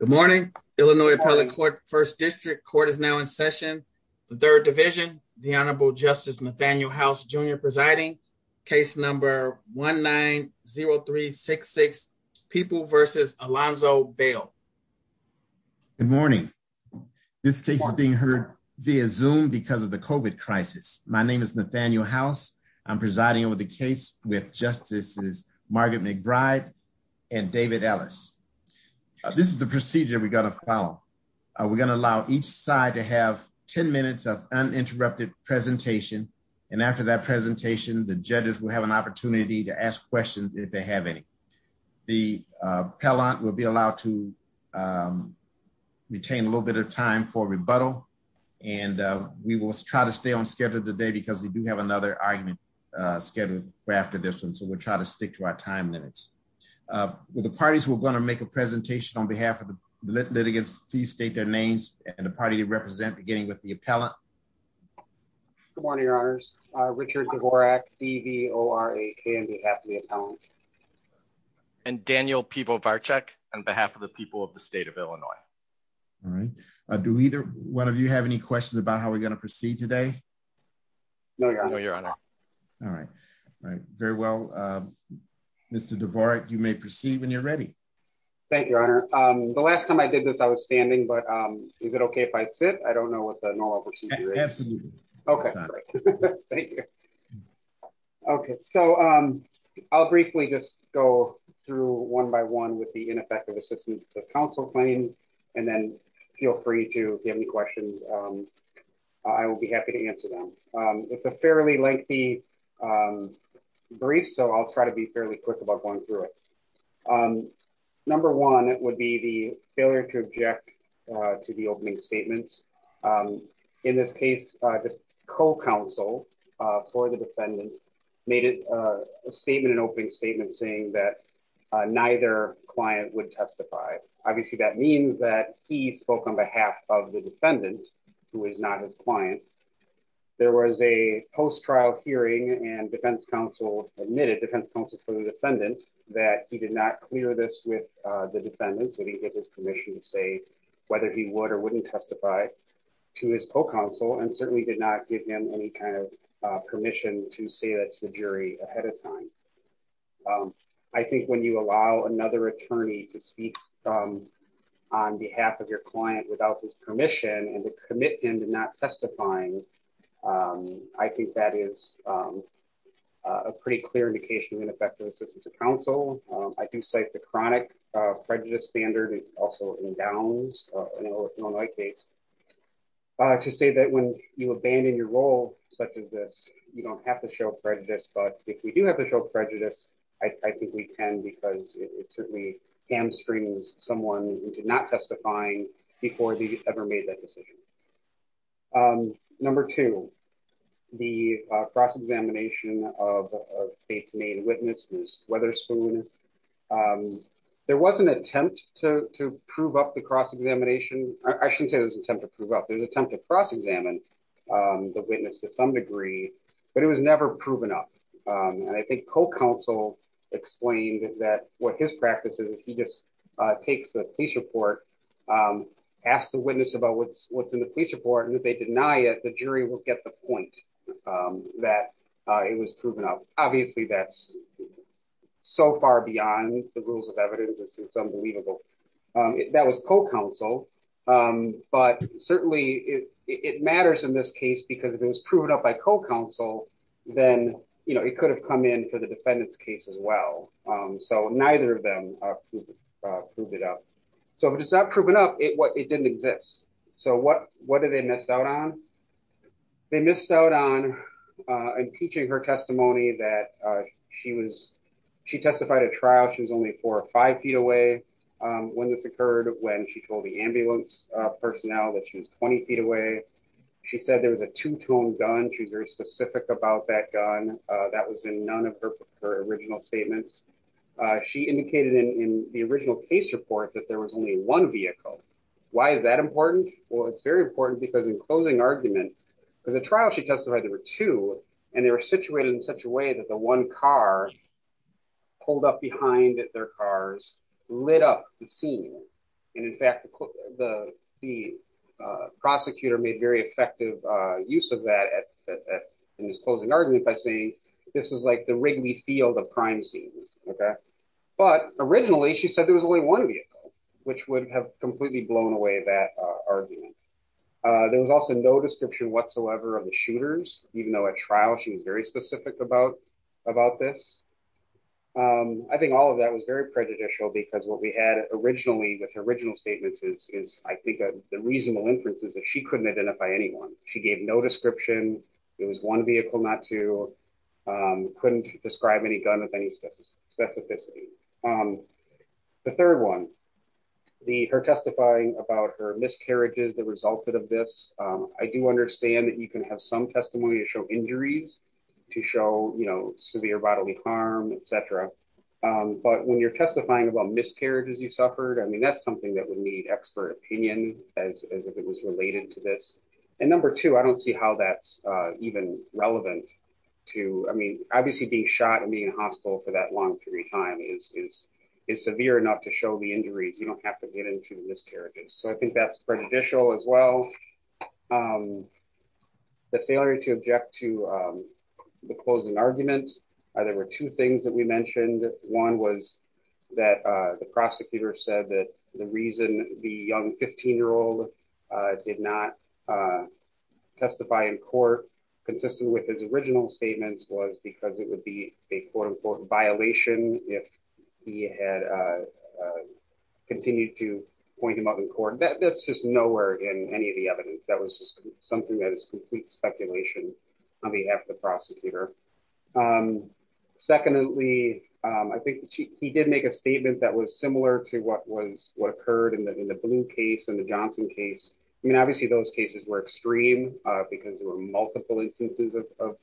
Good morning, Illinois Appellate Court, 1st District. Court is now in session. The 3rd Division, the Honorable Justice Nathaniel House Jr. presiding, case number 1-9-0366, People v. Alonzo Bale. Good morning. This case is being heard via Zoom because of the COVID crisis. My name is Nathaniel House. I'm presiding over the case with Justices Margaret McBride and David Ellis. This is the procedure we're going to follow. We're going to allow each side to have 10 minutes of uninterrupted presentation, and after that presentation, the judges will have an opportunity to ask questions if they have any. The appellant will be allowed to retain a little bit of time for rebuttal, and we will try to stay on schedule today because we do have another argument scheduled for after this one, so we'll try to stick to our time limits. The parties who are going to make a presentation on behalf of the litigants, please state their names and the party they represent, beginning with the appellant. Good morning, Your Honors. Richard Dvorak, D-V-O-R-A-K, on behalf of the appellant. And Daniel Pivovarchuk, on behalf of the people of the state of Illinois. All right. Do either one of you have any questions about how we're going to proceed today? No, Your Honor. All right. All right. Very well, Mr. Dvorak, you may proceed when you're ready. Thank you, Your Honor. The last time I did this, I was standing, but is it okay if I sit? I don't know what the normal procedure is. Absolutely. Okay. Thank you. Okay, so I'll briefly just go through one by one with the ineffective assistance of counsel claim, and then feel free to give me the brief, so I'll try to be fairly quick about going through it. Number one would be the failure to object to the opening statements. In this case, the co-counsel for the defendant made a statement, an opening statement, saying that neither client would testify. Obviously, that means that he spoke on behalf of the defendant, who is not his client. There was a post-trial hearing, and defense counsel admitted, defense counsel for the defendant, that he did not clear this with the defendant, that he gave his permission to say whether he would or wouldn't testify to his co-counsel, and certainly did not give him any kind of permission to say that to the jury ahead of time. I think when you allow another attorney to speak on behalf of your client without his permission, and to commit him to not testifying, I think that is a pretty clear indication of ineffective assistance of counsel. I do cite the chronic prejudice standard, also in Downs, an Illinois case, to say that when you abandon your role such as this, you don't have to show prejudice. I think we can, because it certainly hamstrings someone into not testifying before they ever made that decision. Number two, the cross-examination of a faith-made witness, Ms. Weatherspoon. There was an attempt to prove up the cross-examination. I shouldn't say it was an attempt to prove up. There was an attempt to cross-examine the witness to some degree, but it was never proven up. I think co-counsel explained that what his practice is, he just takes the police report, asks the witness about what's in the police report, and if they deny it, the jury will get the point that it was proven up. Obviously, that's so far beyond the rules of evidence, it's unbelievable. That was co-counsel, but certainly it matters in this case. If it was co-counsel, then it could have come in for the defendant's case as well. So, neither of them proved it up. So, if it's not proven up, it didn't exist. So, what did they miss out on? They missed out on impeaching her testimony that she testified at trial, she was only four or five feet away when this occurred, when she told the ambulance personnel that she was 20 feet away. She said there was a two-tone gun. She's very specific about that gun. That was in none of her original statements. She indicated in the original case report that there was only one vehicle. Why is that important? Well, it's very important because in closing argument, for the trial, she testified there were two, and they were situated in such a way that the one car pulled up behind their cars, lit up the scene. And in fact, the prosecutor made very effective use of that in this closing argument by saying this was like the Wrigley Field of crime scenes, okay? But originally, she said there was only one vehicle, which would have completely blown away that argument. There was also no description whatsoever of the shooters, even though at trial, she was very specific about this. I think all of that was very prejudicial because what we had originally, with her original statements, is I think the reasonable inference is that she couldn't identify anyone. She gave no description. It was one vehicle, not two. Couldn't describe any gun with any specificity. The third one, her testifying about her miscarriages that resulted of this, I do understand that you can have some testimony to show injuries, to show, you know, severe bodily harm, et cetera. But when you're testifying about miscarriages you suffered, I mean, that's something that would need expert opinion as if it was related to this. And number two, I don't see how that's even relevant to, I mean, obviously being shot and being in hospital for that long period of time is severe enough to show the injuries. You don't have to get into the failure to object to the closing argument. There were two things that we mentioned. One was that the prosecutor said that the reason the young 15-year-old did not testify in court consistent with his original statements was because it would be a quote-unquote violation if he had continued to point him out in court. That's just nowhere in any of the evidence. That was just something that is complete speculation on behalf of the prosecutor. Secondly, I think he did make a statement that was similar to what occurred in the Blue case and the Johnson case. I mean, obviously those cases were extreme because there were multiple instances of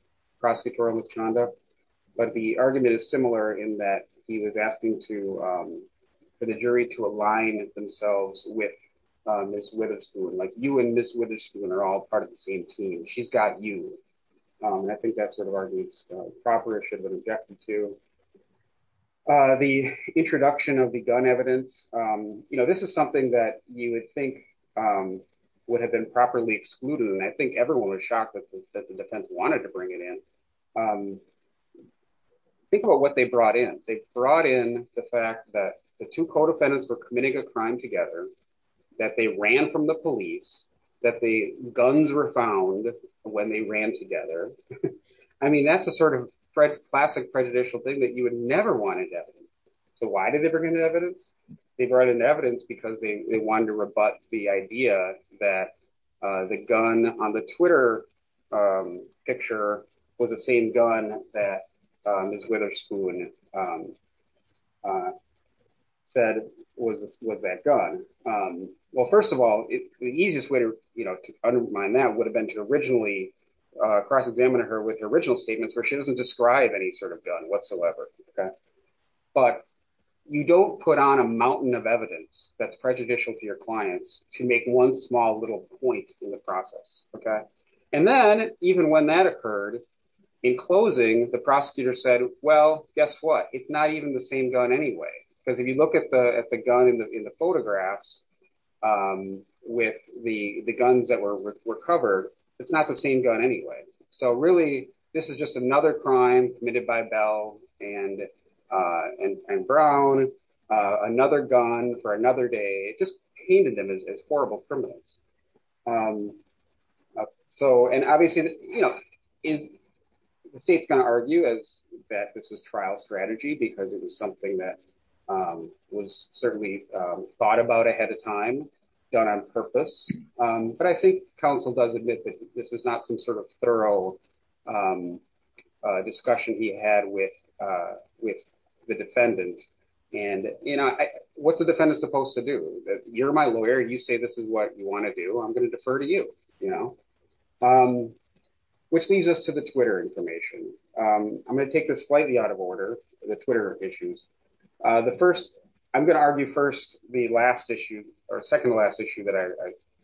for the jury to align themselves with Ms. Witherspoon. Like you and Ms. Witherspoon are all part of the same team. She's got you. I think that sort of argument is proper, should have been objected to. The introduction of the gun evidence, you know, this is something that you would think would have been properly excluded. And I think everyone was shocked that the defense wanted to bring it in. Think about what they brought in. They brought in the fact that the two co-defendants were committing a crime together, that they ran from the police, that the guns were found when they ran together. I mean, that's a sort of classic prejudicial thing that you would never want in evidence. So why did they bring in evidence? They brought in evidence because they wanted to rebut the idea that the gun on the Twitter picture was the same gun that Ms. Witherspoon said was that gun. Well, first of all, the easiest way to undermine that would have been to originally cross-examine her with the original statements where she doesn't describe any sort of gun whatsoever. But you don't put on a mountain of evidence that's prejudicial to your clients to make one small little point in process. And then even when that occurred, in closing, the prosecutor said, well, guess what? It's not even the same gun anyway. Because if you look at the gun in the photographs with the guns that were recovered, it's not the same gun anyway. So really, this is just another crime committed by Bell and Brown, another gun for another day. It just painted them as horrible criminals. So, and obviously, the state's going to argue that this was trial strategy because it was something that was certainly thought about ahead of time, done on purpose. But I think counsel does admit that this is not some sort of thorough discussion he had with the defendant. And what's a defendant supposed to do? You're my lawyer. You say this is what you want to do. I'm going to defer to you. Which leads us to the Twitter information. I'm going to take this slightly out of order, the Twitter issues. The first, I'm going to argue first, the last issue, or second to last issue that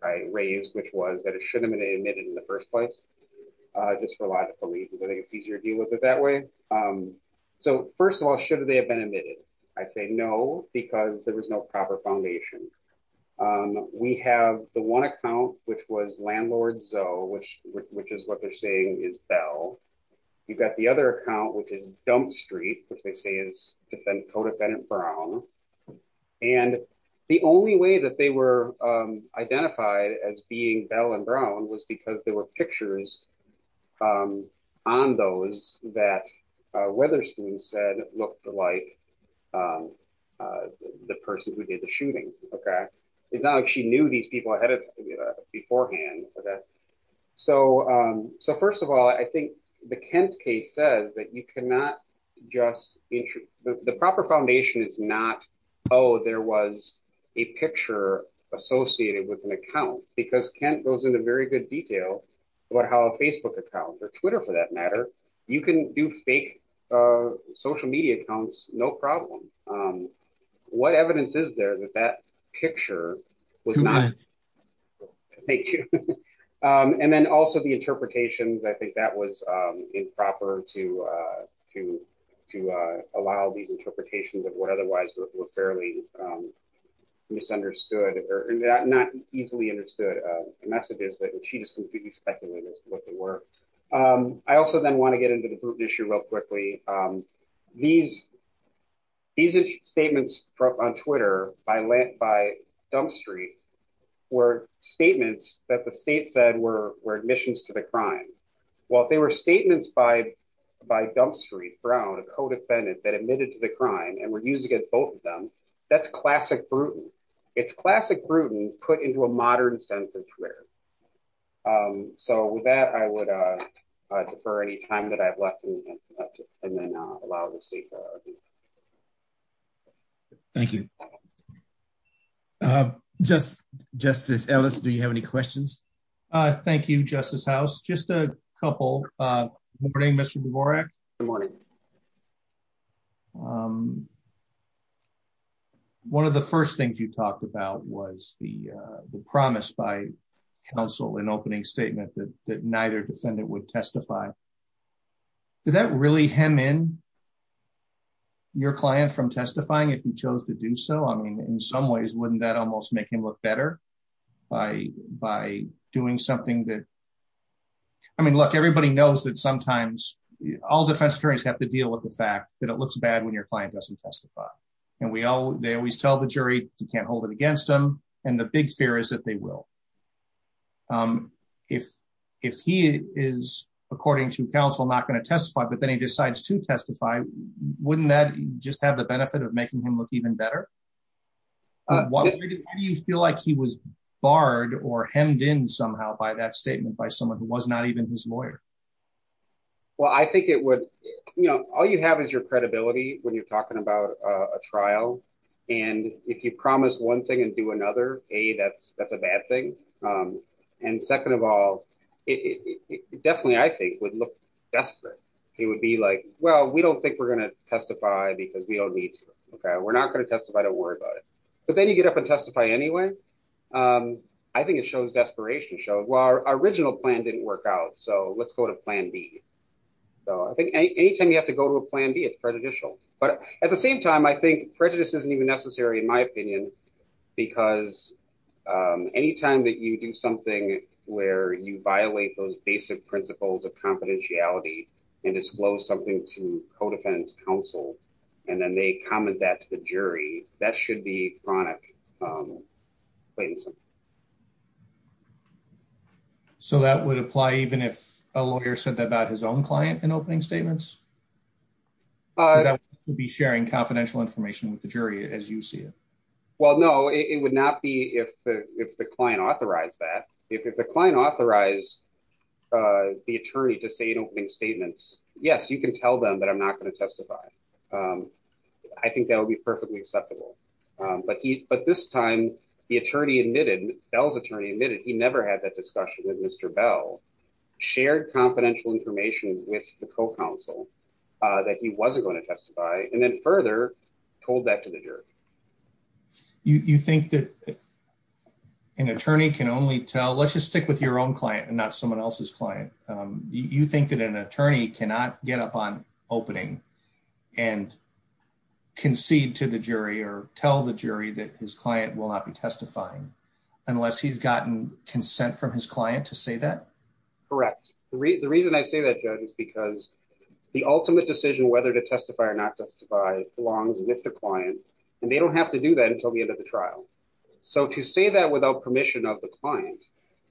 I raised, which was that it shouldn't have been admitted in the first place, just for logical reasons. I think it's easier to deal with it that way. So first of all, should they have been admitted? I'd say no, because there was no proper foundation. We have the one account, which was Landlord Zoe, which is what they're saying is Bell. You've got the other account, which is Dump Street, which they say is Codefendant Brown. And the only way that they were identified as being Bell and Brown was because there were pictures on those that Wetherspoon said looked like the person who did the shooting. It's not like she knew these people beforehand. So first of all, I think the Kent case says that you cannot just, the proper foundation is not, oh, there was a picture associated with an account, because Kent goes into very good detail about how a Facebook account or Twitter for that matter, you can do fake social media accounts, no problem. What evidence is there that that picture was not? And then also the interpretations, I think that was improper to allow these messages that she just completely speculated what they were. I also then want to get into the Bruton issue real quickly. These statements on Twitter by Dump Street were statements that the state said were admissions to the crime. Well, if they were statements by Dump Street, Brown, a Codefendant that admitted to the crime and were used against both of them, that's classic Bruton. It's classic Bruton put into a modern sense of Twitter. So with that, I would defer any time that I have left and then allow the state to... Thank you. Justice Ellis, do you have any questions? Thank you, Justice House. Just a couple. Good morning, Mr. Dvorak. Good morning. One of the first things you talked about was the promise by counsel in opening statement that neither defendant would testify. Did that really hem in your client from testifying if he chose to do so? I mean, in some ways, wouldn't that almost make him look better by doing something that... I mean, look, everybody knows that sometimes all defense attorneys have to deal with the fact that it looks bad when your client doesn't testify. And they always tell the jury, you can't hold it against them. And the big fear is that they will. If he is, according to counsel, not going to testify, but then he decides to testify, wouldn't that just have the benefit of making him look even better? How do you feel like he was barred or hemmed in somehow by that statement by someone who was not even his lawyer? Well, I think it would... All you have is your credibility when you're talking about a trial. And if you promise one thing and do another, A, that's a bad thing. And second of all, it definitely, I think, would look desperate. It would be like, well, we don't think we're going to testify because we don't need to. Okay, we're not going to testify. Don't worry about it. But then you get up and testify anyway. I think it shows desperation. Well, our original plan didn't work out. So let's go to plan B. So I think anytime you have to go to a plan B, it's prejudicial. But at the same time, I think prejudice isn't even necessary in my opinion, because anytime that you do something where you violate those basic principles of confidentiality and disclose something to claim something. So that would apply even if a lawyer said that about his own client in opening statements? Because that would be sharing confidential information with the jury as you see it. Well, no, it would not be if the client authorized that. If the client authorized the attorney to say in opening statements, yes, you can tell them that I'm not going to testify. Um, I think that would be perfectly acceptable. But he but this time, the attorney admitted Bell's attorney admitted he never had that discussion with Mr. Bell shared confidential information with the co counsel that he wasn't going to testify and then further told that to the jury. You think that an attorney can only tell let's just stick with your own client and not someone else's client. You think that an attorney cannot get up on opening and concede to the jury or tell the jury that his client will not be testifying unless he's gotten consent from his client to say that? Correct. The reason I say that judge is because the ultimate decision whether to testify or not testify belongs with the client. And they don't have to do that until the end of the trial. So to say that without permission of the client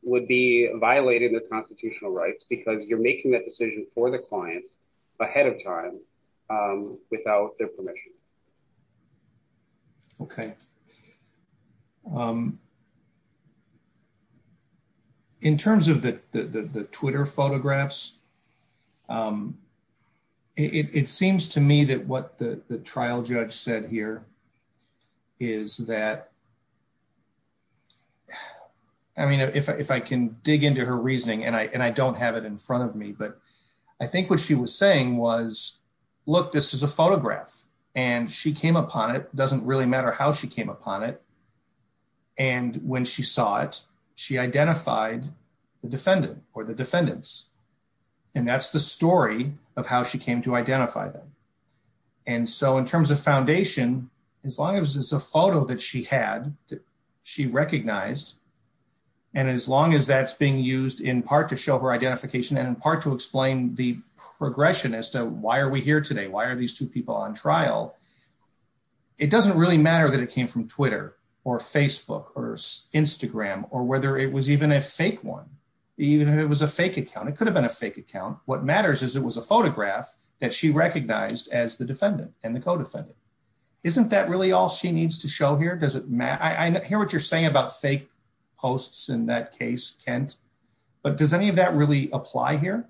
would be violating the constitutional rights because you're making that decision for the client ahead of time without their permission. Okay. Um, in terms of the Twitter photographs, um, it seems to me that what the trial judge said here is that I mean, if I can dig into her reasoning, and I don't have it in front of me, but I think what she was saying was, look, this is a photograph, and she came upon it doesn't really matter how she came upon it. And when she saw it, she identified the defendant or the defendants. And that's the story of how she came to identify them. And so in terms of foundation, as long as it's a photo that she had, she recognized. And as long as that's being used in part to show her identification and in part to explain the progression as to why are we here today? Why are these two people on trial? It doesn't really matter that it came from Twitter or Facebook or Instagram, or whether it was even a fake one, even if it was a fake account, it could have been a fake account. What matters is it was a photograph that she recognized as the defendant and the co defendant. Isn't that really all she needs to show here? Does it matter? I hear what you're saying about fake posts in that case, Kent, but does any of that really apply here?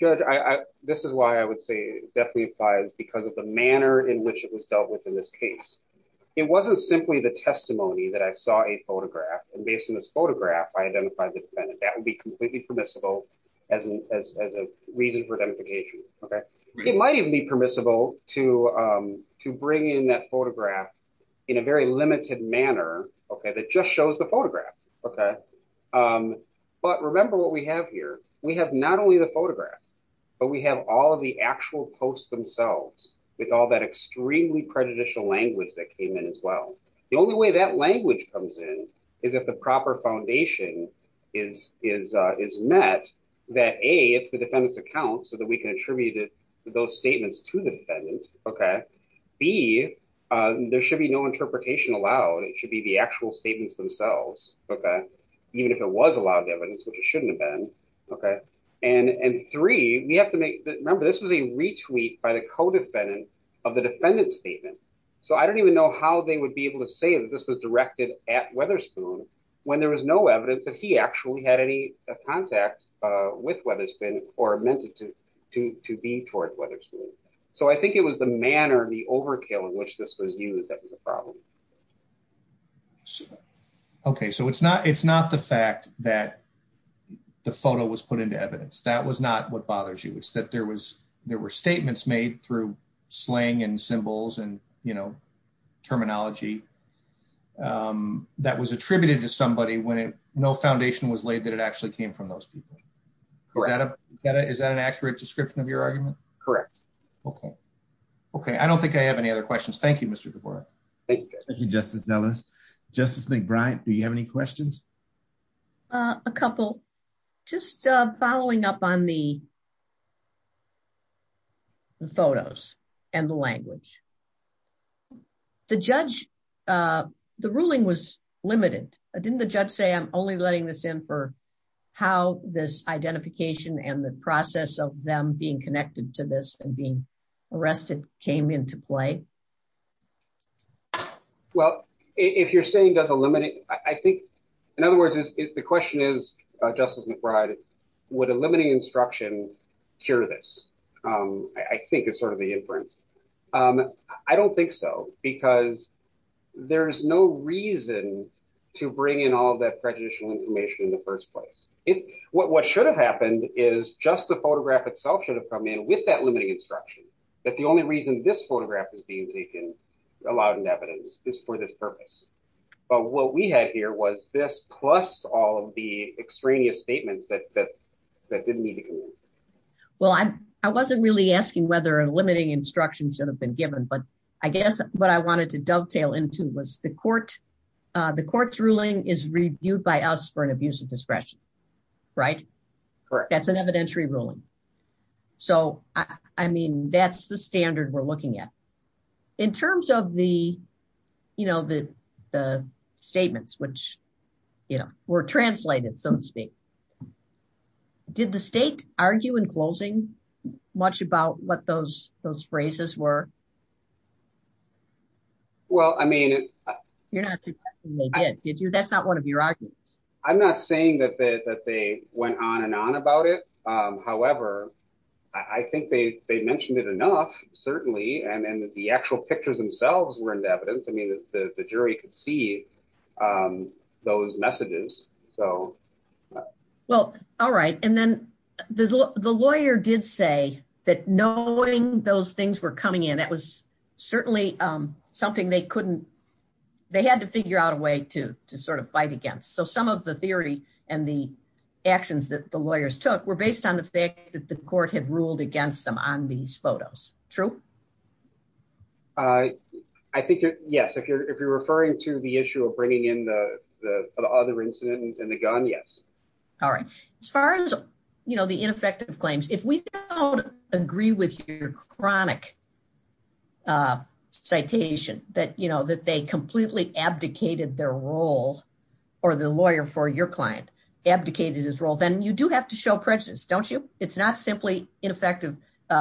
Judge, I, this is why I would say definitely applies because of the manner in which it was dealt with in this case. It wasn't simply the testimony that I saw a photograph. And based on this photograph, I identified the defendant. That would be completely permissible as a reason for identification. Okay. It might even be permissible to bring in that photograph in a very limited manner. Okay. That just shows the photograph. Okay. But remember what we have here, we have not only the photograph, but we have all of the actual posts themselves with all that extremely prejudicial language that came in as well. The only way that language comes in is if the proper foundation is met, that A, it's the defendant's account so that we can attribute those statements to the defendant. Okay. B, there should be no interpretation allowed. It should be the actual statements themselves. Okay. Even if it was allowed evidence, which it shouldn't have been. Okay. And three, we have to make, remember this was a retweet by the co-defendant of the defendant's statement. So I don't even know how they would be able to say that this was directed at Weatherspoon when there was no evidence that he actually had any contact with Weatherspoon or meant it to be towards Weatherspoon. So I think it was the manner, the overkill in which this was used that was a problem. Okay. So it's not the fact that the photo was put into evidence. That was not what bothers you. It's that there were statements made through slang and symbols and terminology that was attributed to somebody when no foundation was laid that it actually came from those people. Correct. Is that an accurate description of your argument? Correct. Okay. Okay. I don't think I have any other questions. Thank you, Mr. DeBoer. Thank you, Justice Ellis. Justice McBride, do you have any questions? A couple. Just following up on the photos and the language. The judge, the ruling was limited. Didn't the judge say, I'm only letting this in for how this identification and the process of them being connected to this and being arrested came into play? Well, if you're saying does eliminate, I think, in other words, the question is, Justice McBride, would eliminating instruction cure this? I think it's sort of the inference. I don't think so, because there's no reason to bring in all that prejudicial information in the first place. What should have happened is just the photograph itself should have come in with that limiting instruction, that the only reason this photograph is being taken, allowed in evidence, is for this purpose. But what we had here was this plus all of the extraneous statements that didn't need to come in. Well, I wasn't really asking whether eliminating instruction should have been given, but I guess what I wanted to dovetail into was the court's ruling is reviewed by us for an abuse of discretion, right? That's an evidentiary ruling. So, I mean, that's the standard we're looking at. In terms of the statements, which were translated, so to speak, did the state argue in closing much about what those phrases were? Well, I mean... You're not suggesting they did, did you? That's not one of your arguments. I'm not saying that they went on and on about it. However, I think they mentioned it enough, certainly, and the actual pictures themselves were in evidence. I mean, the jury could see those messages, so... Well, all right. And then the lawyer did say that knowing those things were coming in, that was certainly something they couldn't... They had to figure out a way to sort of fight against. So, some of the theory and the actions that the lawyers took were based on the fact that the court had ruled against them on these photos. True? I think, yes. If you're referring to the issue of bringing in the other incident and the gun, yes. All right. As far as the ineffective claims, if we don't agree with your chronic citation that they completely abdicated their role, or the lawyer for your client abdicated his role, then you do have to show prejudice, don't you? It's not simply ineffective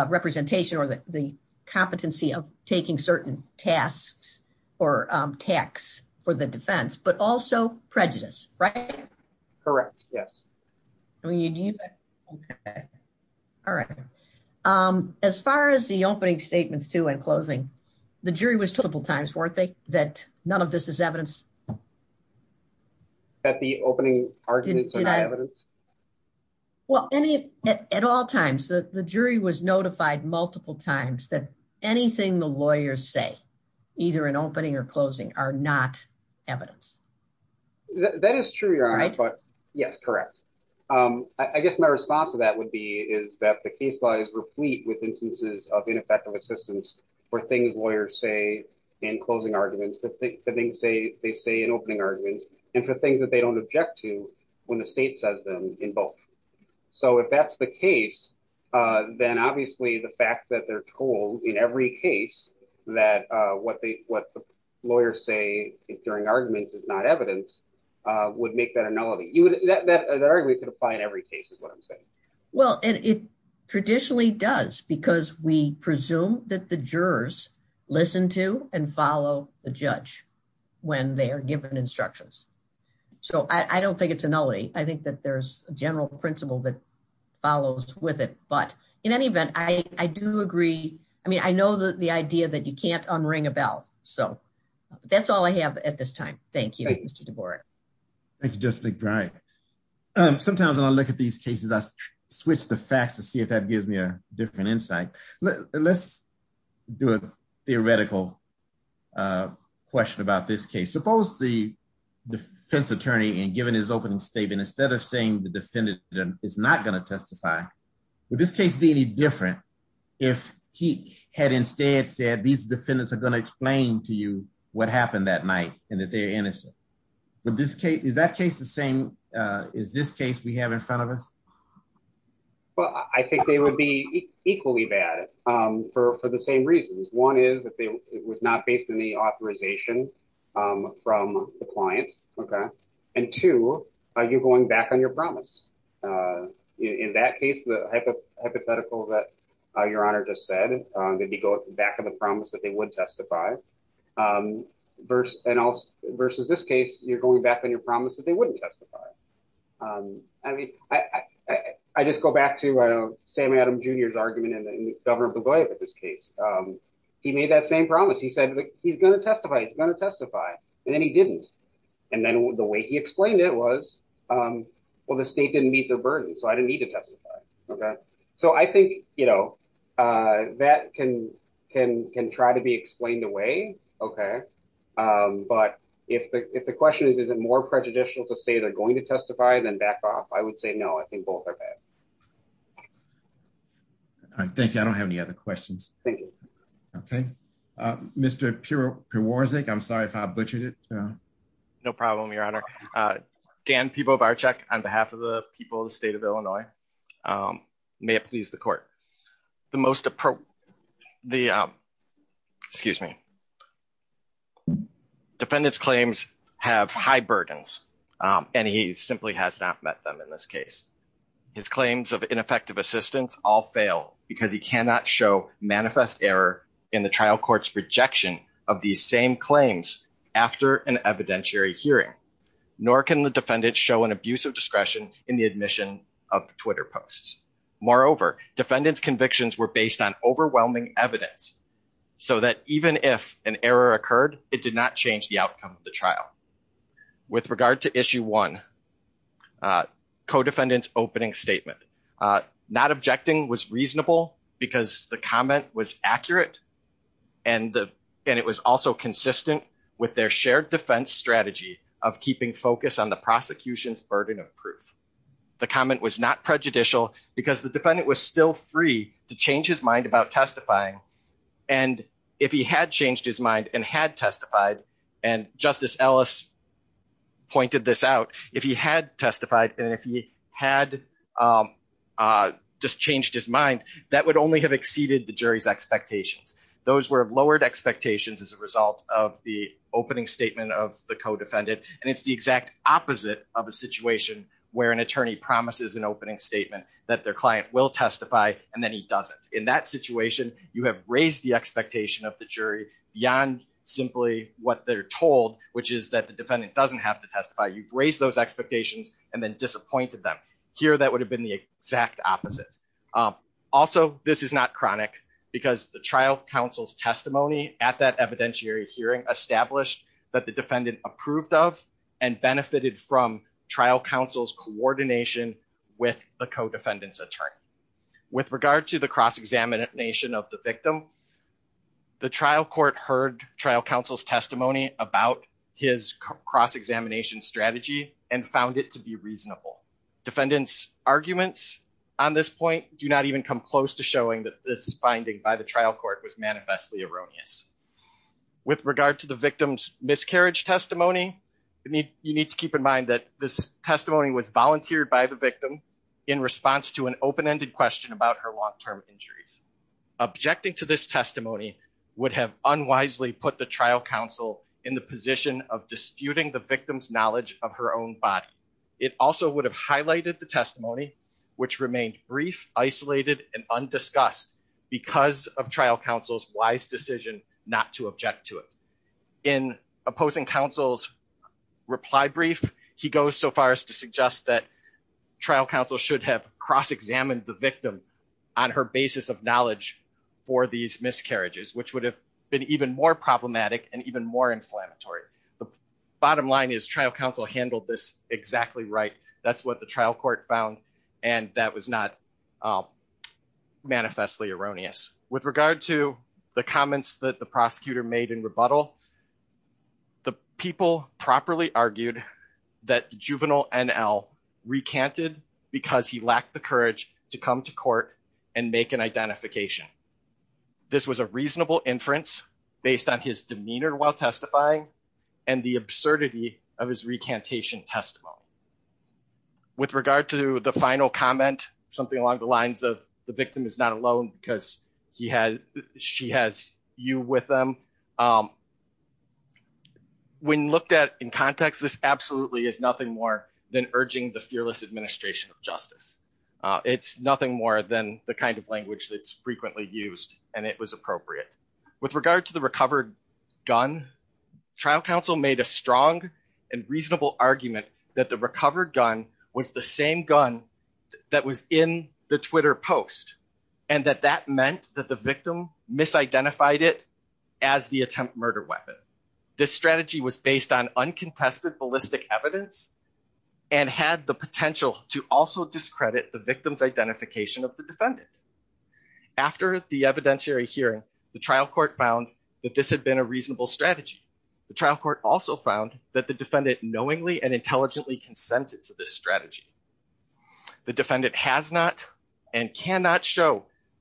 representation or the competency of taking certain tasks or tacks for the defense, but also prejudice, right? Correct, yes. All right. As far as the opening statements, too, and closing, the jury was told multiple times, weren't they, that none of this is evidence? That the opening arguments are evidence? Well, at all times, the jury was notified multiple times that anything the lawyers say, either in opening or closing, are not evidence. That is true, Your Honor, but yes, correct. I guess my response to that would be is that the case law is replete with instances of ineffective assistance for things lawyers say in closing arguments, for things they say in opening arguments, and for things that they don't object to when the state says them in both. So if that's the case, then obviously the fact that they're told in every case that what the lawyers say during arguments is not evidence would make that a nullity. That argument could apply in every case is what I'm saying. Well, it traditionally does because we So I don't think it's a nullity. I think that there's a general principle that follows with it, but in any event, I do agree. I mean, I know the idea that you can't unring a bell, so that's all I have at this time. Thank you, Mr. DeBoer. Thank you, Justice McBride. Sometimes when I look at these cases, I switch the facts to see if that gives me a different insight. Let's do a theoretical question about this case. Suppose the defense attorney, given his opening statement, instead of saying the defendant is not going to testify, would this case be any different if he had instead said, these defendants are going to explain to you what happened that night and that they're innocent? Is that case the same as this case we have in front of us? Well, I think they would be equally bad for the same reasons. One is that it was not based on the authorization from the client. And two, you're going back on your promise. In that case, the hypothetical that Your Honor just said, that you go back on the promise that they would testify versus this case, you're going back on your promise that they wouldn't testify. I mean, I just go back to Sam Adams Jr.'s argument in the government of the way of this case. He made that same promise. He said, he's going to testify, he's going to testify, and then he didn't. And then the way he explained it was, well, the state didn't meet their burden, so I didn't need to testify. So I think that can try to be explained away. But if the question is, is it more prejudicial to say they're going to testify, then back off. I would say no, I think both are bad. All right, thank you. I don't have any other questions. Thank you. Okay. Mr. Piewarczyk, I'm sorry if I butchered it. No problem, Your Honor. Dan Piewarczyk, on behalf of the people of the state of Illinois, may it please the court. The most appropriate, the, excuse me, defendant's claims have high burdens, and he simply has not met them in this case. His claims of ineffective assistance all fail because he cannot show manifest error in the trial court's rejection of these same claims after an evidentiary hearing, nor can the defendant show an abuse of discretion in the admission of the Twitter posts. Moreover, defendant's convictions were based on overwhelming evidence, so that even if an error occurred, it did not change the outcome of the trial. With regard to issue one, co-defendant's opening statement, not objecting was reasonable because the comment was accurate, and it was also consistent with their shared defense strategy of keeping focus on the prosecution's burden of proof. The comment was not prejudicial because the defendant was still free to change his mind about testifying, and if he had changed his mind and had testified, and Justice Ellis pointed this out, if he had testified and if he had just changed his mind, that would only have exceeded the jury's expectations. Those were lowered expectations as a result of the opening statement of the co-defendant, and it's the exact opposite of a situation where an attorney promises an opening statement that their client will not. In that situation, you have raised the expectation of the jury beyond simply what they're told, which is that the defendant doesn't have to testify. You've raised those expectations and then disappointed them. Here, that would have been the exact opposite. Also, this is not chronic because the trial counsel's testimony at that evidentiary hearing established that the defendant approved of and benefited from trial counsel's coordination with the co-defendant's attorney. With regard to the cross-examination of the victim, the trial court heard trial counsel's testimony about his cross-examination strategy and found it to be reasonable. Defendants' arguments on this point do not even come close to showing that this finding by the trial court was manifestly erroneous. With regard to the victim's miscarriage testimony, you need to keep in mind that this her long-term injuries. Objecting to this testimony would have unwisely put the trial counsel in the position of disputing the victim's knowledge of her own body. It also would have highlighted the testimony, which remained brief, isolated, and undiscussed because of trial counsel's wise decision not to object to it. In opposing counsel's reply brief, he goes so far to suggest that trial counsel should have cross-examined the victim on her basis of knowledge for these miscarriages, which would have been even more problematic and even more inflammatory. The bottom line is trial counsel handled this exactly right. That's what the trial court found, and that was not manifestly erroneous. With regard to the comments that the prosecutor made in rebuttal, the people properly argued that the juvenile NL recanted because he lacked the courage to come to court and make an identification. This was a reasonable inference based on his demeanor while testifying and the absurdity of his recantation testimony. With regard to the final comment, something along the lines of the victim is not alone because she has you with them. When looked at in context, this absolutely is nothing more than urging the fearless administration of justice. It's nothing more than the kind of language that's frequently used, and it was appropriate. With regard to the recovered gun, trial counsel made a strong and reasonable argument that the recovered gun was the same gun that was in the Twitter post, and that that meant that the victim misidentified it as the attempt murder weapon. This strategy was based on uncontested ballistic evidence and had the potential to also discredit the victim's identification of the defendant. After the evidentiary hearing, the trial court found that this had been a reasonable strategy. The trial court also found that the defendant knowingly and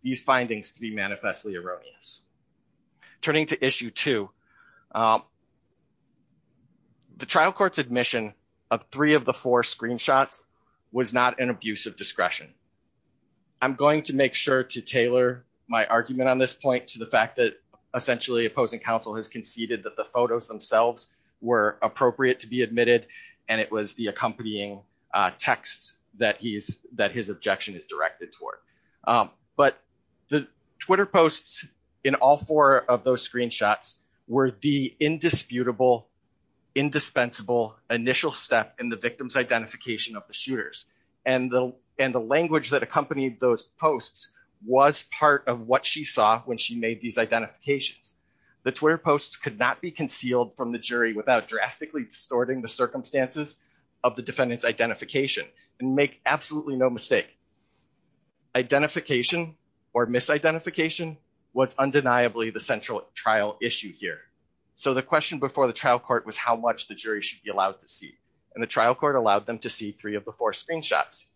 these findings to be manifestly erroneous. Turning to issue two, the trial court's admission of three of the four screenshots was not an abuse of discretion. I'm going to make sure to tailor my argument on this point to the fact that essentially opposing counsel has conceded that the photos themselves were appropriate to be admitted, and it was the but the Twitter posts in all four of those screenshots were the indisputable, indispensable initial step in the victim's identification of the shooters, and the language that accompanied those posts was part of what she saw when she made these identifications. The Twitter posts could not be concealed from the jury without drastically distorting the circumstances of the defendant's identification. And make absolutely no mistake, identification or misidentification was undeniably the central trial issue here. So the question before the trial court was how much the jury should be allowed to see, and the trial court allowed them to see three of the four screenshots.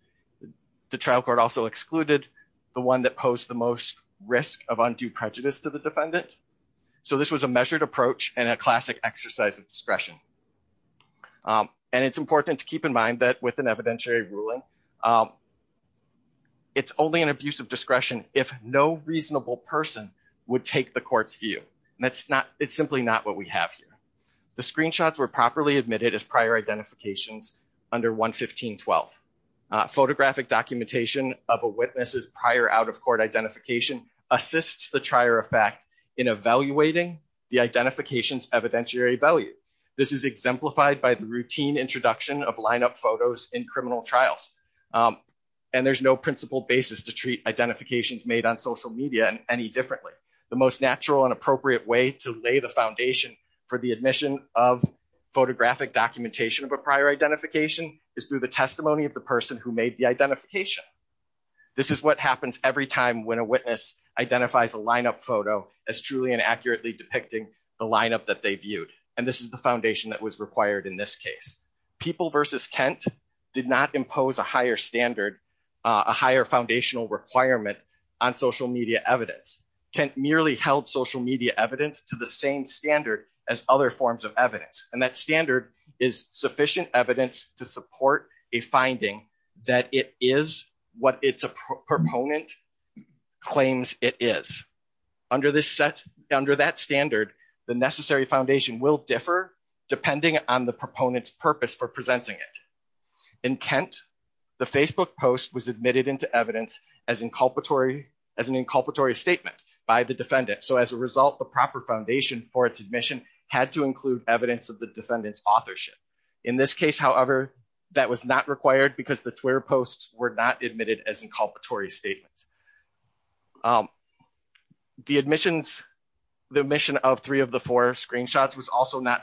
The trial court also excluded the one that posed the most risk of undue prejudice to the defendant. So this was a measured approach and a classic exercise of discretion. And it's important to keep in mind that with an evidentiary ruling, it's only an abuse of discretion if no reasonable person would take the court's view. And that's not, it's simply not what we have here. The screenshots were properly admitted as prior identifications under 115-12. Photographic documentation of a witness's prior out-of-court identification assists the trier of fact in evaluating the identification's exemplified by the routine introduction of lineup photos in criminal trials. And there's no principle basis to treat identifications made on social media and any differently. The most natural and appropriate way to lay the foundation for the admission of photographic documentation of a prior identification is through the testimony of the person who made the identification. This is what happens every time when a witness identifies a lineup photo as truly and accurately depicting the lineup that they viewed. And this is the foundation that was required in this case. People versus Kent did not impose a higher standard, a higher foundational requirement on social media evidence. Kent merely held social media evidence to the same standard as other forms of evidence. And that standard is sufficient evidence to support a finding that it is what its proponent claims it is. Under this set, under that standard, the necessary foundation will differ depending on the proponent's purpose for presenting it. In Kent, the Facebook post was admitted into evidence as an inculpatory statement by the defendant. So as a result, the proper foundation for its admission had to include evidence of the defendant's authorship. In this case, however, that was not required because the Twitter posts were not admitted as inculpatory statements. The admission of three of the four screenshots was also not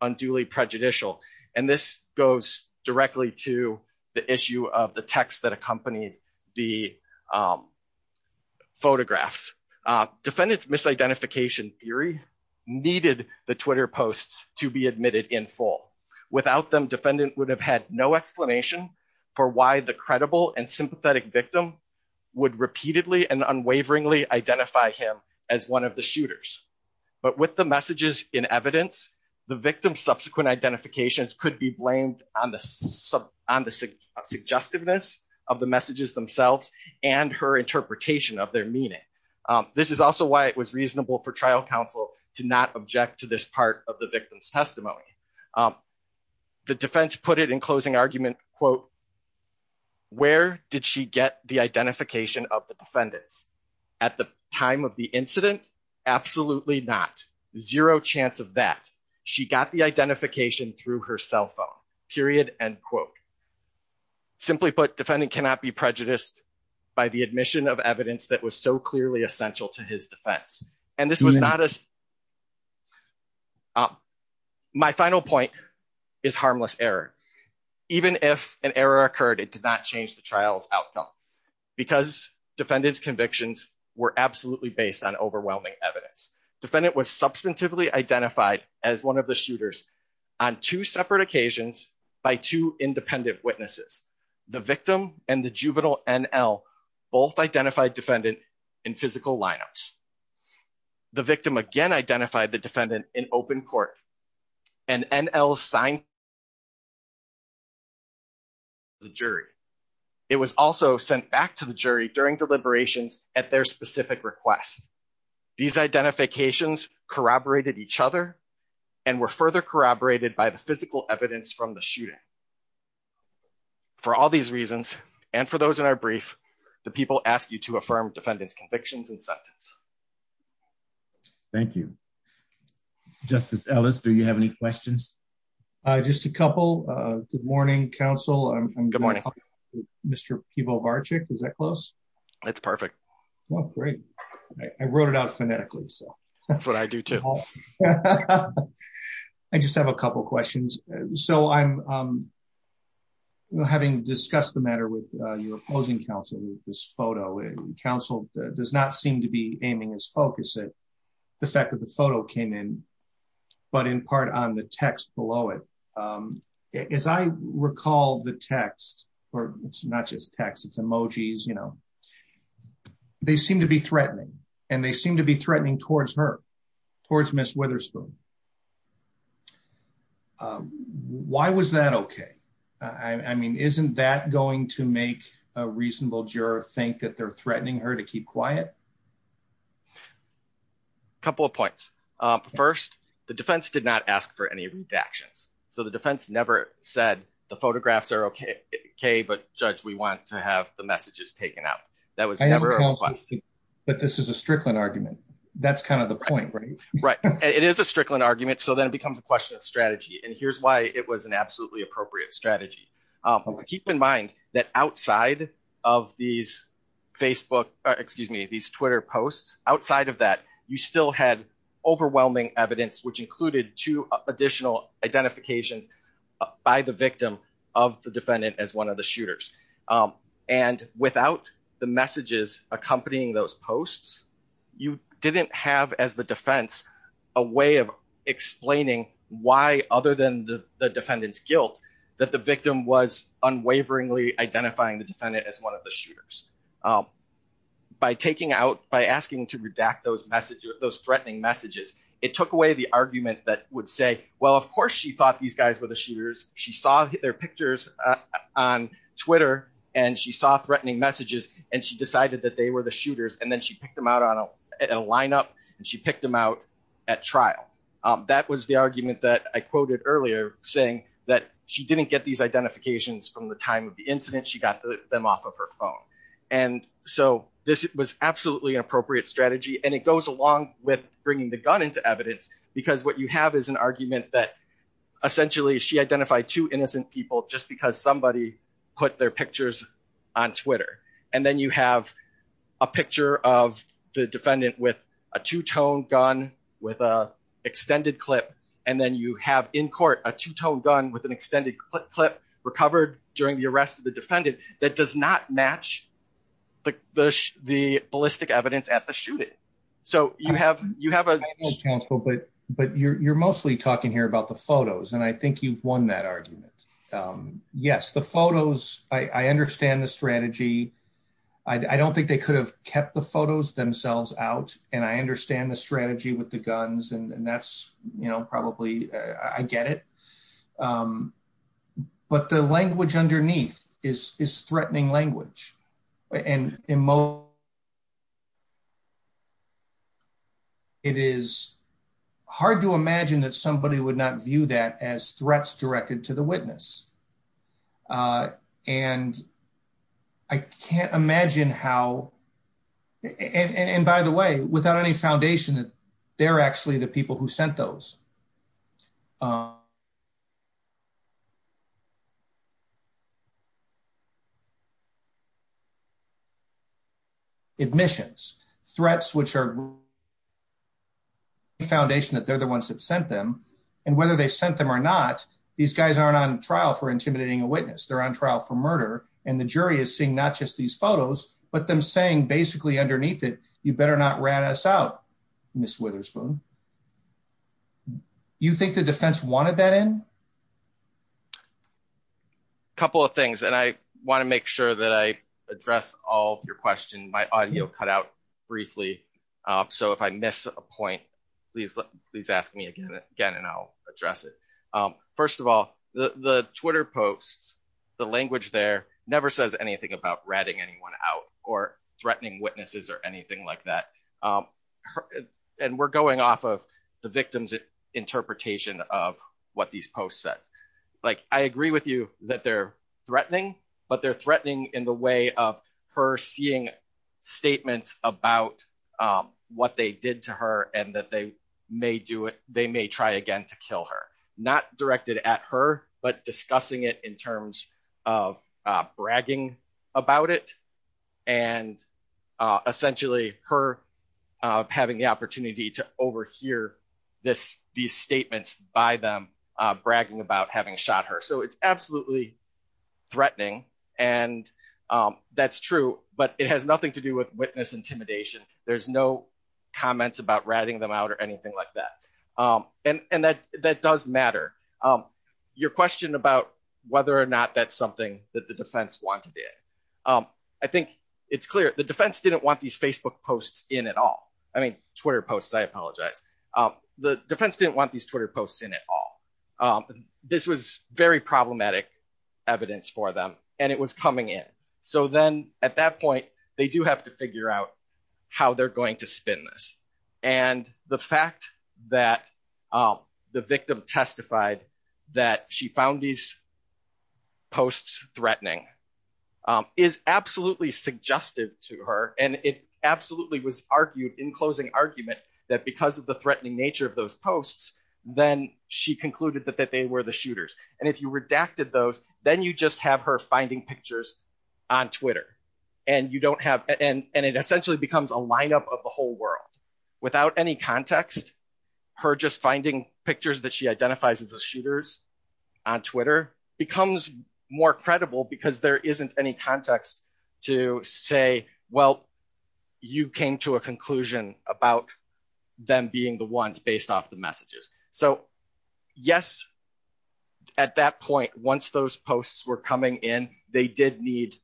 unduly prejudicial. And this goes directly to the issue of the text that accompanied the photographs. Defendant's misidentification theory needed the Twitter posts to be admitted in full. Without them, would have had no explanation for why the credible and sympathetic victim would repeatedly and unwaveringly identify him as one of the shooters. But with the messages in evidence, the victim's subsequent identifications could be blamed on the suggestiveness of the messages themselves and her interpretation of their meaning. This is also why it was reasonable for trial counsel to not object to this part of the victim's testimony. The defense put it in closing argument, quote, where did she get the identification of the defendants? At the time of the incident? Absolutely not. Zero chance of that. She got the identification through her cell phone, period, end quote. Simply put, defendant cannot be prejudiced by the admission of evidence that was so clearly essential to his defense. And this was not as, my final point is harmless error. Even if an error occurred, it did not change the trial's outcome. Because defendants convictions were absolutely based on overwhelming evidence. Defendant was substantively identified as one of the shooters on two separate occasions by two independent witnesses. The victim and the juvenile NL both identified defendant in physical lineups. The victim again identified the defendant in open court and NL signed the jury. It was also sent back to the jury during deliberations at their specific requests. These identifications corroborated each other and were further corroborated by the physical evidence from the shooting. For all these reasons, and for those in our brief, the people ask you to affirm defendant's convictions and sentence. Thank you. Justice Ellis, do you have any questions? Just a couple. Good morning, counsel. Good morning. Mr. Pivo Varchick. Is that close? That's perfect. Well, great. I wrote it out phonetically. That's what I do too. I just have a couple of questions. So I'm you know, having discussed the matter with your opposing counsel with this photo, counsel does not seem to be aiming his focus at the fact that the photo came in, but in part on the text below it. As I recall the text, or it's not just text, it's emojis, you know, they seem to be threatening, and they seem to be threatening towards her, towards Ms. Witherspoon. Why was that okay? I mean, isn't that going to make a reasonable juror think that they're threatening her to keep quiet? A couple of points. First, the defense did not ask for any redactions. So the defense never said the photographs are okay, but judge, we want to have the messages taken out. That was never a request. But this is a Strickland argument. That's kind of the point, right? It is a Strickland argument. So then it becomes a question of strategy. And here's why it was an absolutely appropriate strategy. Keep in mind that outside of these Facebook, excuse me, these Twitter posts, outside of that, you still had overwhelming evidence, which included two additional identifications by the victim of the defendant as one of the shooters. And without the messages accompanying those posts, you didn't have, as the defense, a way of explaining why, other than the defendant's guilt, that the victim was unwaveringly identifying the defendant as one of the shooters. By taking out, by asking to redact those messages, those threatening messages, it took away the argument that would say, well, of course, she thought these guys were the shooters. She saw their pictures on Twitter, and she saw threatening messages, and she decided that they were the shooters. And then she picked them out in a lineup, and she picked them out at trial. That was the argument that I quoted earlier, saying that she didn't get these identifications from the time of the incident. She got them off of her phone. And so this was absolutely an appropriate strategy. And it goes along with bringing the gun into evidence, because what you have is an argument that, essentially, she identified two innocent people just because somebody put their pictures on Twitter. And then you have a picture of the defendant with a two-tone gun with an extended clip. And then you have, in court, a two-tone gun with an extended clip recovered during the arrest of the defendant that does not match the ballistic evidence at the shooting. So you have a- I know, counsel, but you're mostly talking here about the photos, and I think you've won that argument. Yes, the photos, I understand the strategy. I don't think they could have kept the photos themselves out, and I understand the strategy with the guns, and that's probably, I get it. But the language underneath is threatening language. And in most- it is hard to imagine that somebody would not view that as threats directed to the witness. And I can't imagine how- and by the way, without any foundation, they're actually the people who are- admissions. Threats which are- foundation that they're the ones that sent them. And whether they sent them or not, these guys aren't on trial for intimidating a witness. They're on trial for murder, and the jury is seeing not just these photos, but them saying, basically, underneath it, better not rat us out, Ms. Witherspoon. You think the defense wanted that in? A couple of things, and I want to make sure that I address all your questions. My audio cut out briefly, so if I miss a point, please ask me again, and I'll address it. First of all, the Twitter posts, the language there never says anything about ratting anyone out or that. And we're going off of the victim's interpretation of what these posts said. I agree with you that they're threatening, but they're threatening in the way of her seeing statements about what they did to her and that they may do it- they may try again to kill her. Not directed at her, but discussing it in terms of bragging about it, and essentially her having the opportunity to overhear these statements by them bragging about having shot her. So it's absolutely threatening, and that's true, but it has nothing to do with witness intimidation. There's no comments about ratting them out or anything like that. And that does matter. Your question about whether or not that's something that the defense wanted it, I think it's clear the defense didn't want these Facebook posts in at all. I mean, Twitter posts, I apologize. The defense didn't want these Twitter posts in at all. This was very problematic evidence for them, and it was coming in. So then at that point, they do have to figure out how they're going to spin this. And the fact that the victim testified that she found these posts threatening is absolutely suggestive to her, and it absolutely was argued in closing argument that because of the threatening nature of those posts, then she concluded that they were the shooters. And if you redacted those, then you just have her finding pictures on Twitter, and it essentially becomes a lineup of the whole world. Without any context, her just finding pictures that she identifies as shooters on Twitter becomes more credible because there isn't any context to say, well, you came to a conclusion about them being the ones based off the messages. So yes, at that point, once those posts were coming in, they did need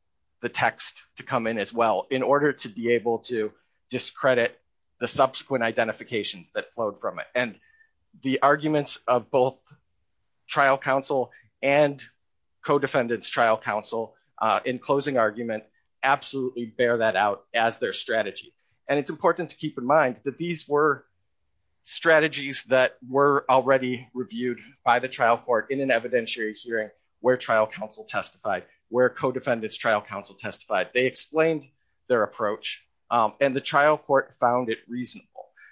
the text to come in as well in order to be able to discredit the subsequent identifications that flowed from it. And the arguments of both trial counsel and co-defendants trial counsel in closing argument, absolutely bear that out as their strategy. And it's important to keep in mind that these were already reviewed by the trial court in an evidentiary hearing where trial counsel testified, where co-defendants trial counsel testified. They explained their approach, and the trial court found it reasonable.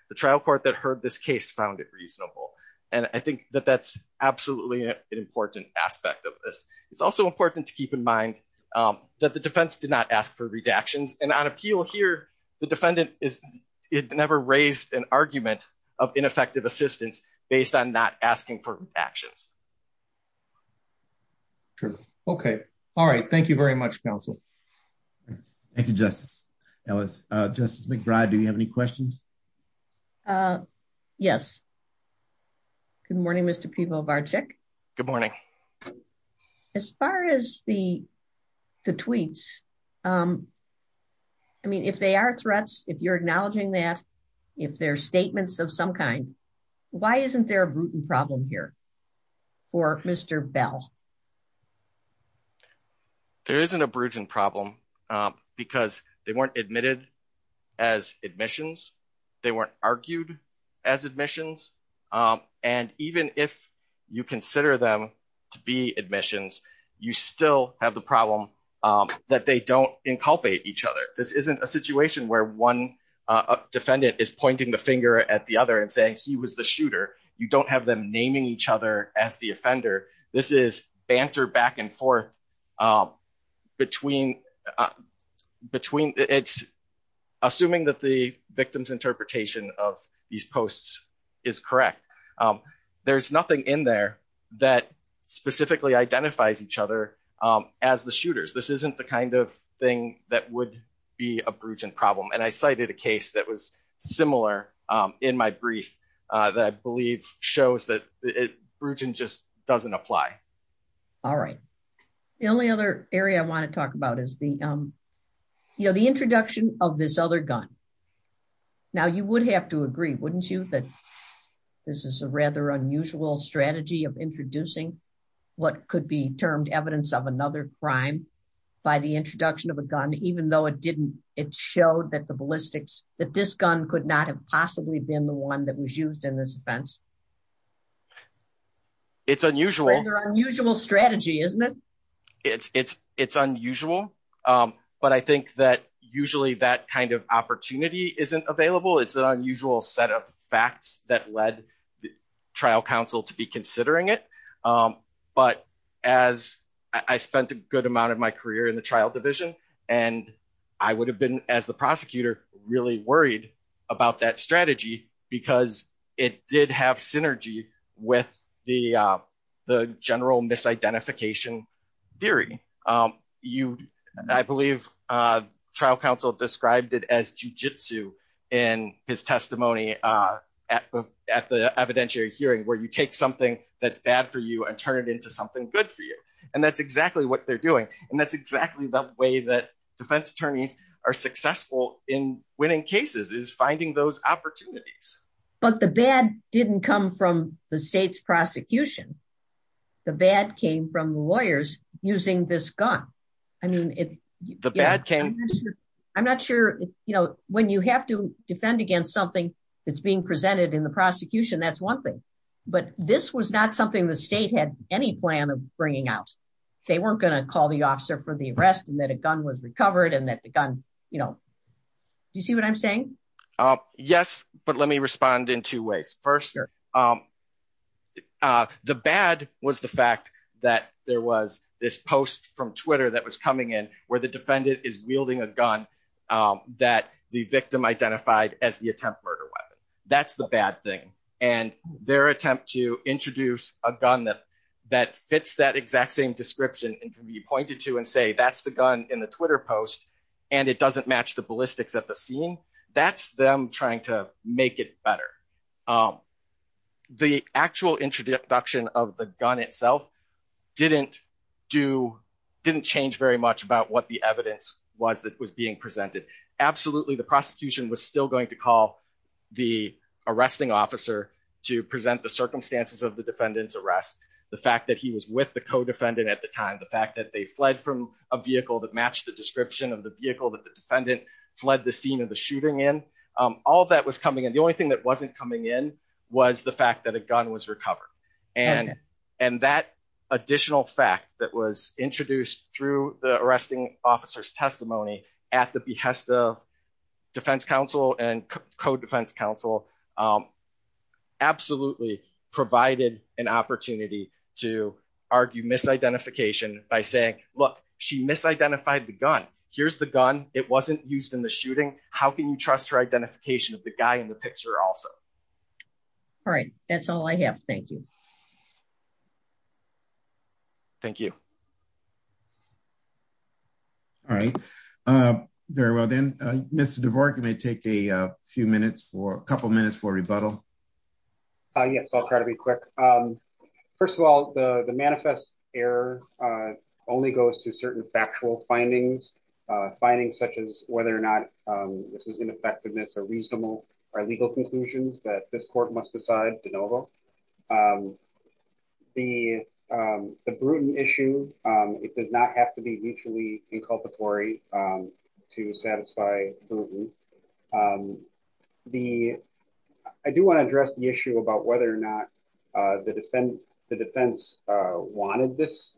The trial court that heard this case found it reasonable. And I think that that's absolutely an important aspect of this. It's also important to keep in mind that the defense did not ask for redactions. And on appeal here, the defendant never raised an argument of ineffective assistance based on not asking for actions. True. Okay. All right. Thank you very much, counsel. Thank you, Justice Ellis. Justice McBride, do you have any questions? Yes. Good morning, Mr. Pivo Varchick. Good morning. As far as the tweets, I mean, if they are threats, if you're acknowledging that, if they're statements of some kind, why isn't there a Bruton problem here for Mr. Bell? There isn't a Bruton problem, because they weren't admitted as admissions. They weren't argued as admissions. And even if you consider them to be admissions, you still have the problem that they don't inculpate each other. This isn't a situation where one defendant is pointing the finger at the other and saying he was the shooter. You don't have them naming each other as the offender. This is banter back and forth between, it's assuming that the victim's interpretation of these posts is correct. There's nothing in there that specifically identifies each other as the shooters. This isn't the kind of thing that would be a Bruton problem. And I cited a case that was similar in my brief that I believe shows that Bruton just doesn't apply. All right. The only other area I want to talk about is the introduction of this other gun. Now, you would have to agree, wouldn't you, that this is a rather unusual strategy of introducing what could be termed evidence of another crime by the introduction of a gun, even though it didn't, it showed that the ballistics, that this gun could not have possibly been the one that was used in this offense? It's unusual. An unusual strategy, isn't it? It's unusual, but I think that usually that kind of opportunity isn't available. It's an unusual set of facts that led the trial counsel to be considering it. But as I spent a good amount of my career in the trial division, and I would have been, as the prosecutor, really worried about that strategy because it did have synergy with the general misidentification theory. I believe trial counsel described it as jujitsu in his testimony at the evidentiary hearing, where you take something that's bad for you and turn it into something good for you. And that's exactly what they're doing. And that's exactly the way that defense attorneys are successful in winning cases, is finding those opportunities. But the bad didn't come from the state's prosecution. The bad came from the lawyers using this gun. I mean, the bad came... I'm not sure, you know, when you have to defend against something that's being presented in the prosecution, that's one thing. But this was not something the state had any plan of bringing out. They weren't going to call the officer for the arrest and that a gun was recovered and that the gun, you know... Do you see what I'm saying? Yes, but let me respond in two ways. First, the bad was the fact that there was this post from Twitter that was coming in where the defendant is wielding a gun that the victim identified as the attempt murder weapon. That's the bad thing. And their attempt to introduce a gun that fits that exact same description and can be pointed to and say, that's the gun in the Twitter post and it doesn't match the ballistics at the scene, that's them trying to make it better. The actual introduction of the gun itself didn't change very much about what the evidence was that was being presented. Absolutely, the prosecution was still going to call the arresting officer to present the circumstances of the defendant's arrest, the fact that he was with the co-defendant at the time, the fact that they fled from a vehicle that matched the description of the vehicle that defendant fled the scene of the shooting in, all that was coming in. The only thing that wasn't coming in was the fact that a gun was recovered. And that additional fact that was introduced through the arresting officer's testimony at the behest of defense counsel and co-defense counsel absolutely provided an opportunity to argue misidentification by saying, look, she misidentified the gun, here's the gun, it wasn't used in the shooting, how can you trust her identification of the guy in the picture also? All right, that's all I have, thank you. Thank you. All right, very well then, Mr. DeVore, you may take a few minutes for a couple minutes for rebuttal. Yes, I'll try to be quick. First of all, the manifest error only goes to certain factual findings, findings such as whether or not this was ineffectiveness or reasonable or legal conclusions that this court must decide de novo. The Bruton issue, it does not have to be mutually inculpatory to satisfy Bruton. I do want to address the issue about whether or not the defense wanted this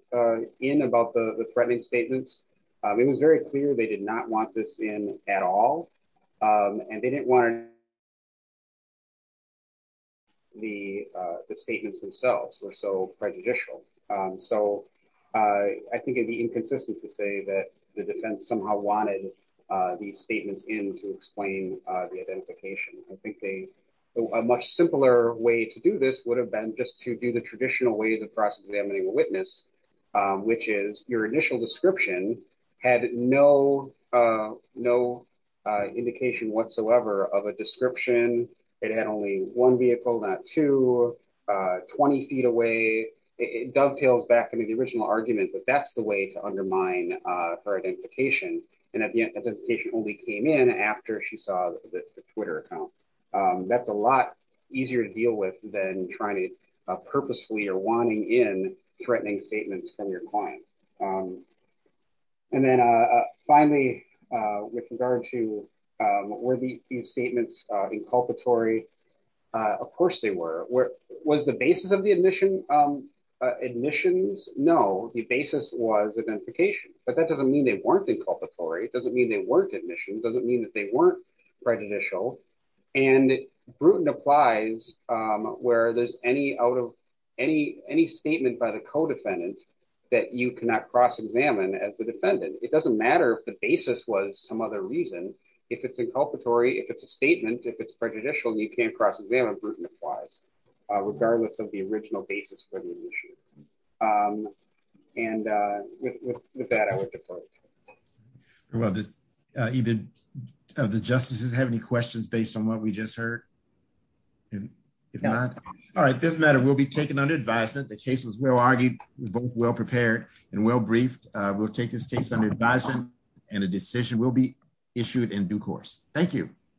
in about the threatening statements. It was very clear they did not want this in at all, and they didn't want the statements themselves were so prejudicial. So I think it'd be somehow wanted these statements in to explain the identification. I think a much simpler way to do this would have been just to do the traditional way of cross-examining a witness, which is your initial description had no indication whatsoever of a description. It had only one vehicle, not two, 20 feet away. It dovetails back to the original argument that that's the way to undermine her identification, and the identification only came in after she saw the Twitter account. That's a lot easier to deal with than trying to purposefully or wanting in threatening statements from your client. And then finally, with regard to were these statements inculpatory? Of course they were. Was the basis of the admissions? No, the basis was identification, but that doesn't mean they weren't inculpatory. It doesn't mean they weren't admissions. It doesn't mean that they weren't prejudicial, and Bruton applies where there's any statement by the co-defendant that you cannot cross-examine as the defendant. It doesn't matter if the basis was some reason. If it's inculpatory, if it's a statement, if it's prejudicial, you can't cross-examine Bruton applies regardless of the original basis for the issue. And with that, I would defer. Well, either of the justices have any questions based on what we just heard? All right, this matter will be taken under advisement. The case was well argued, both well prepared, and well briefed. We'll take this case under advisement, and a decision will be issued in due course. Thank you.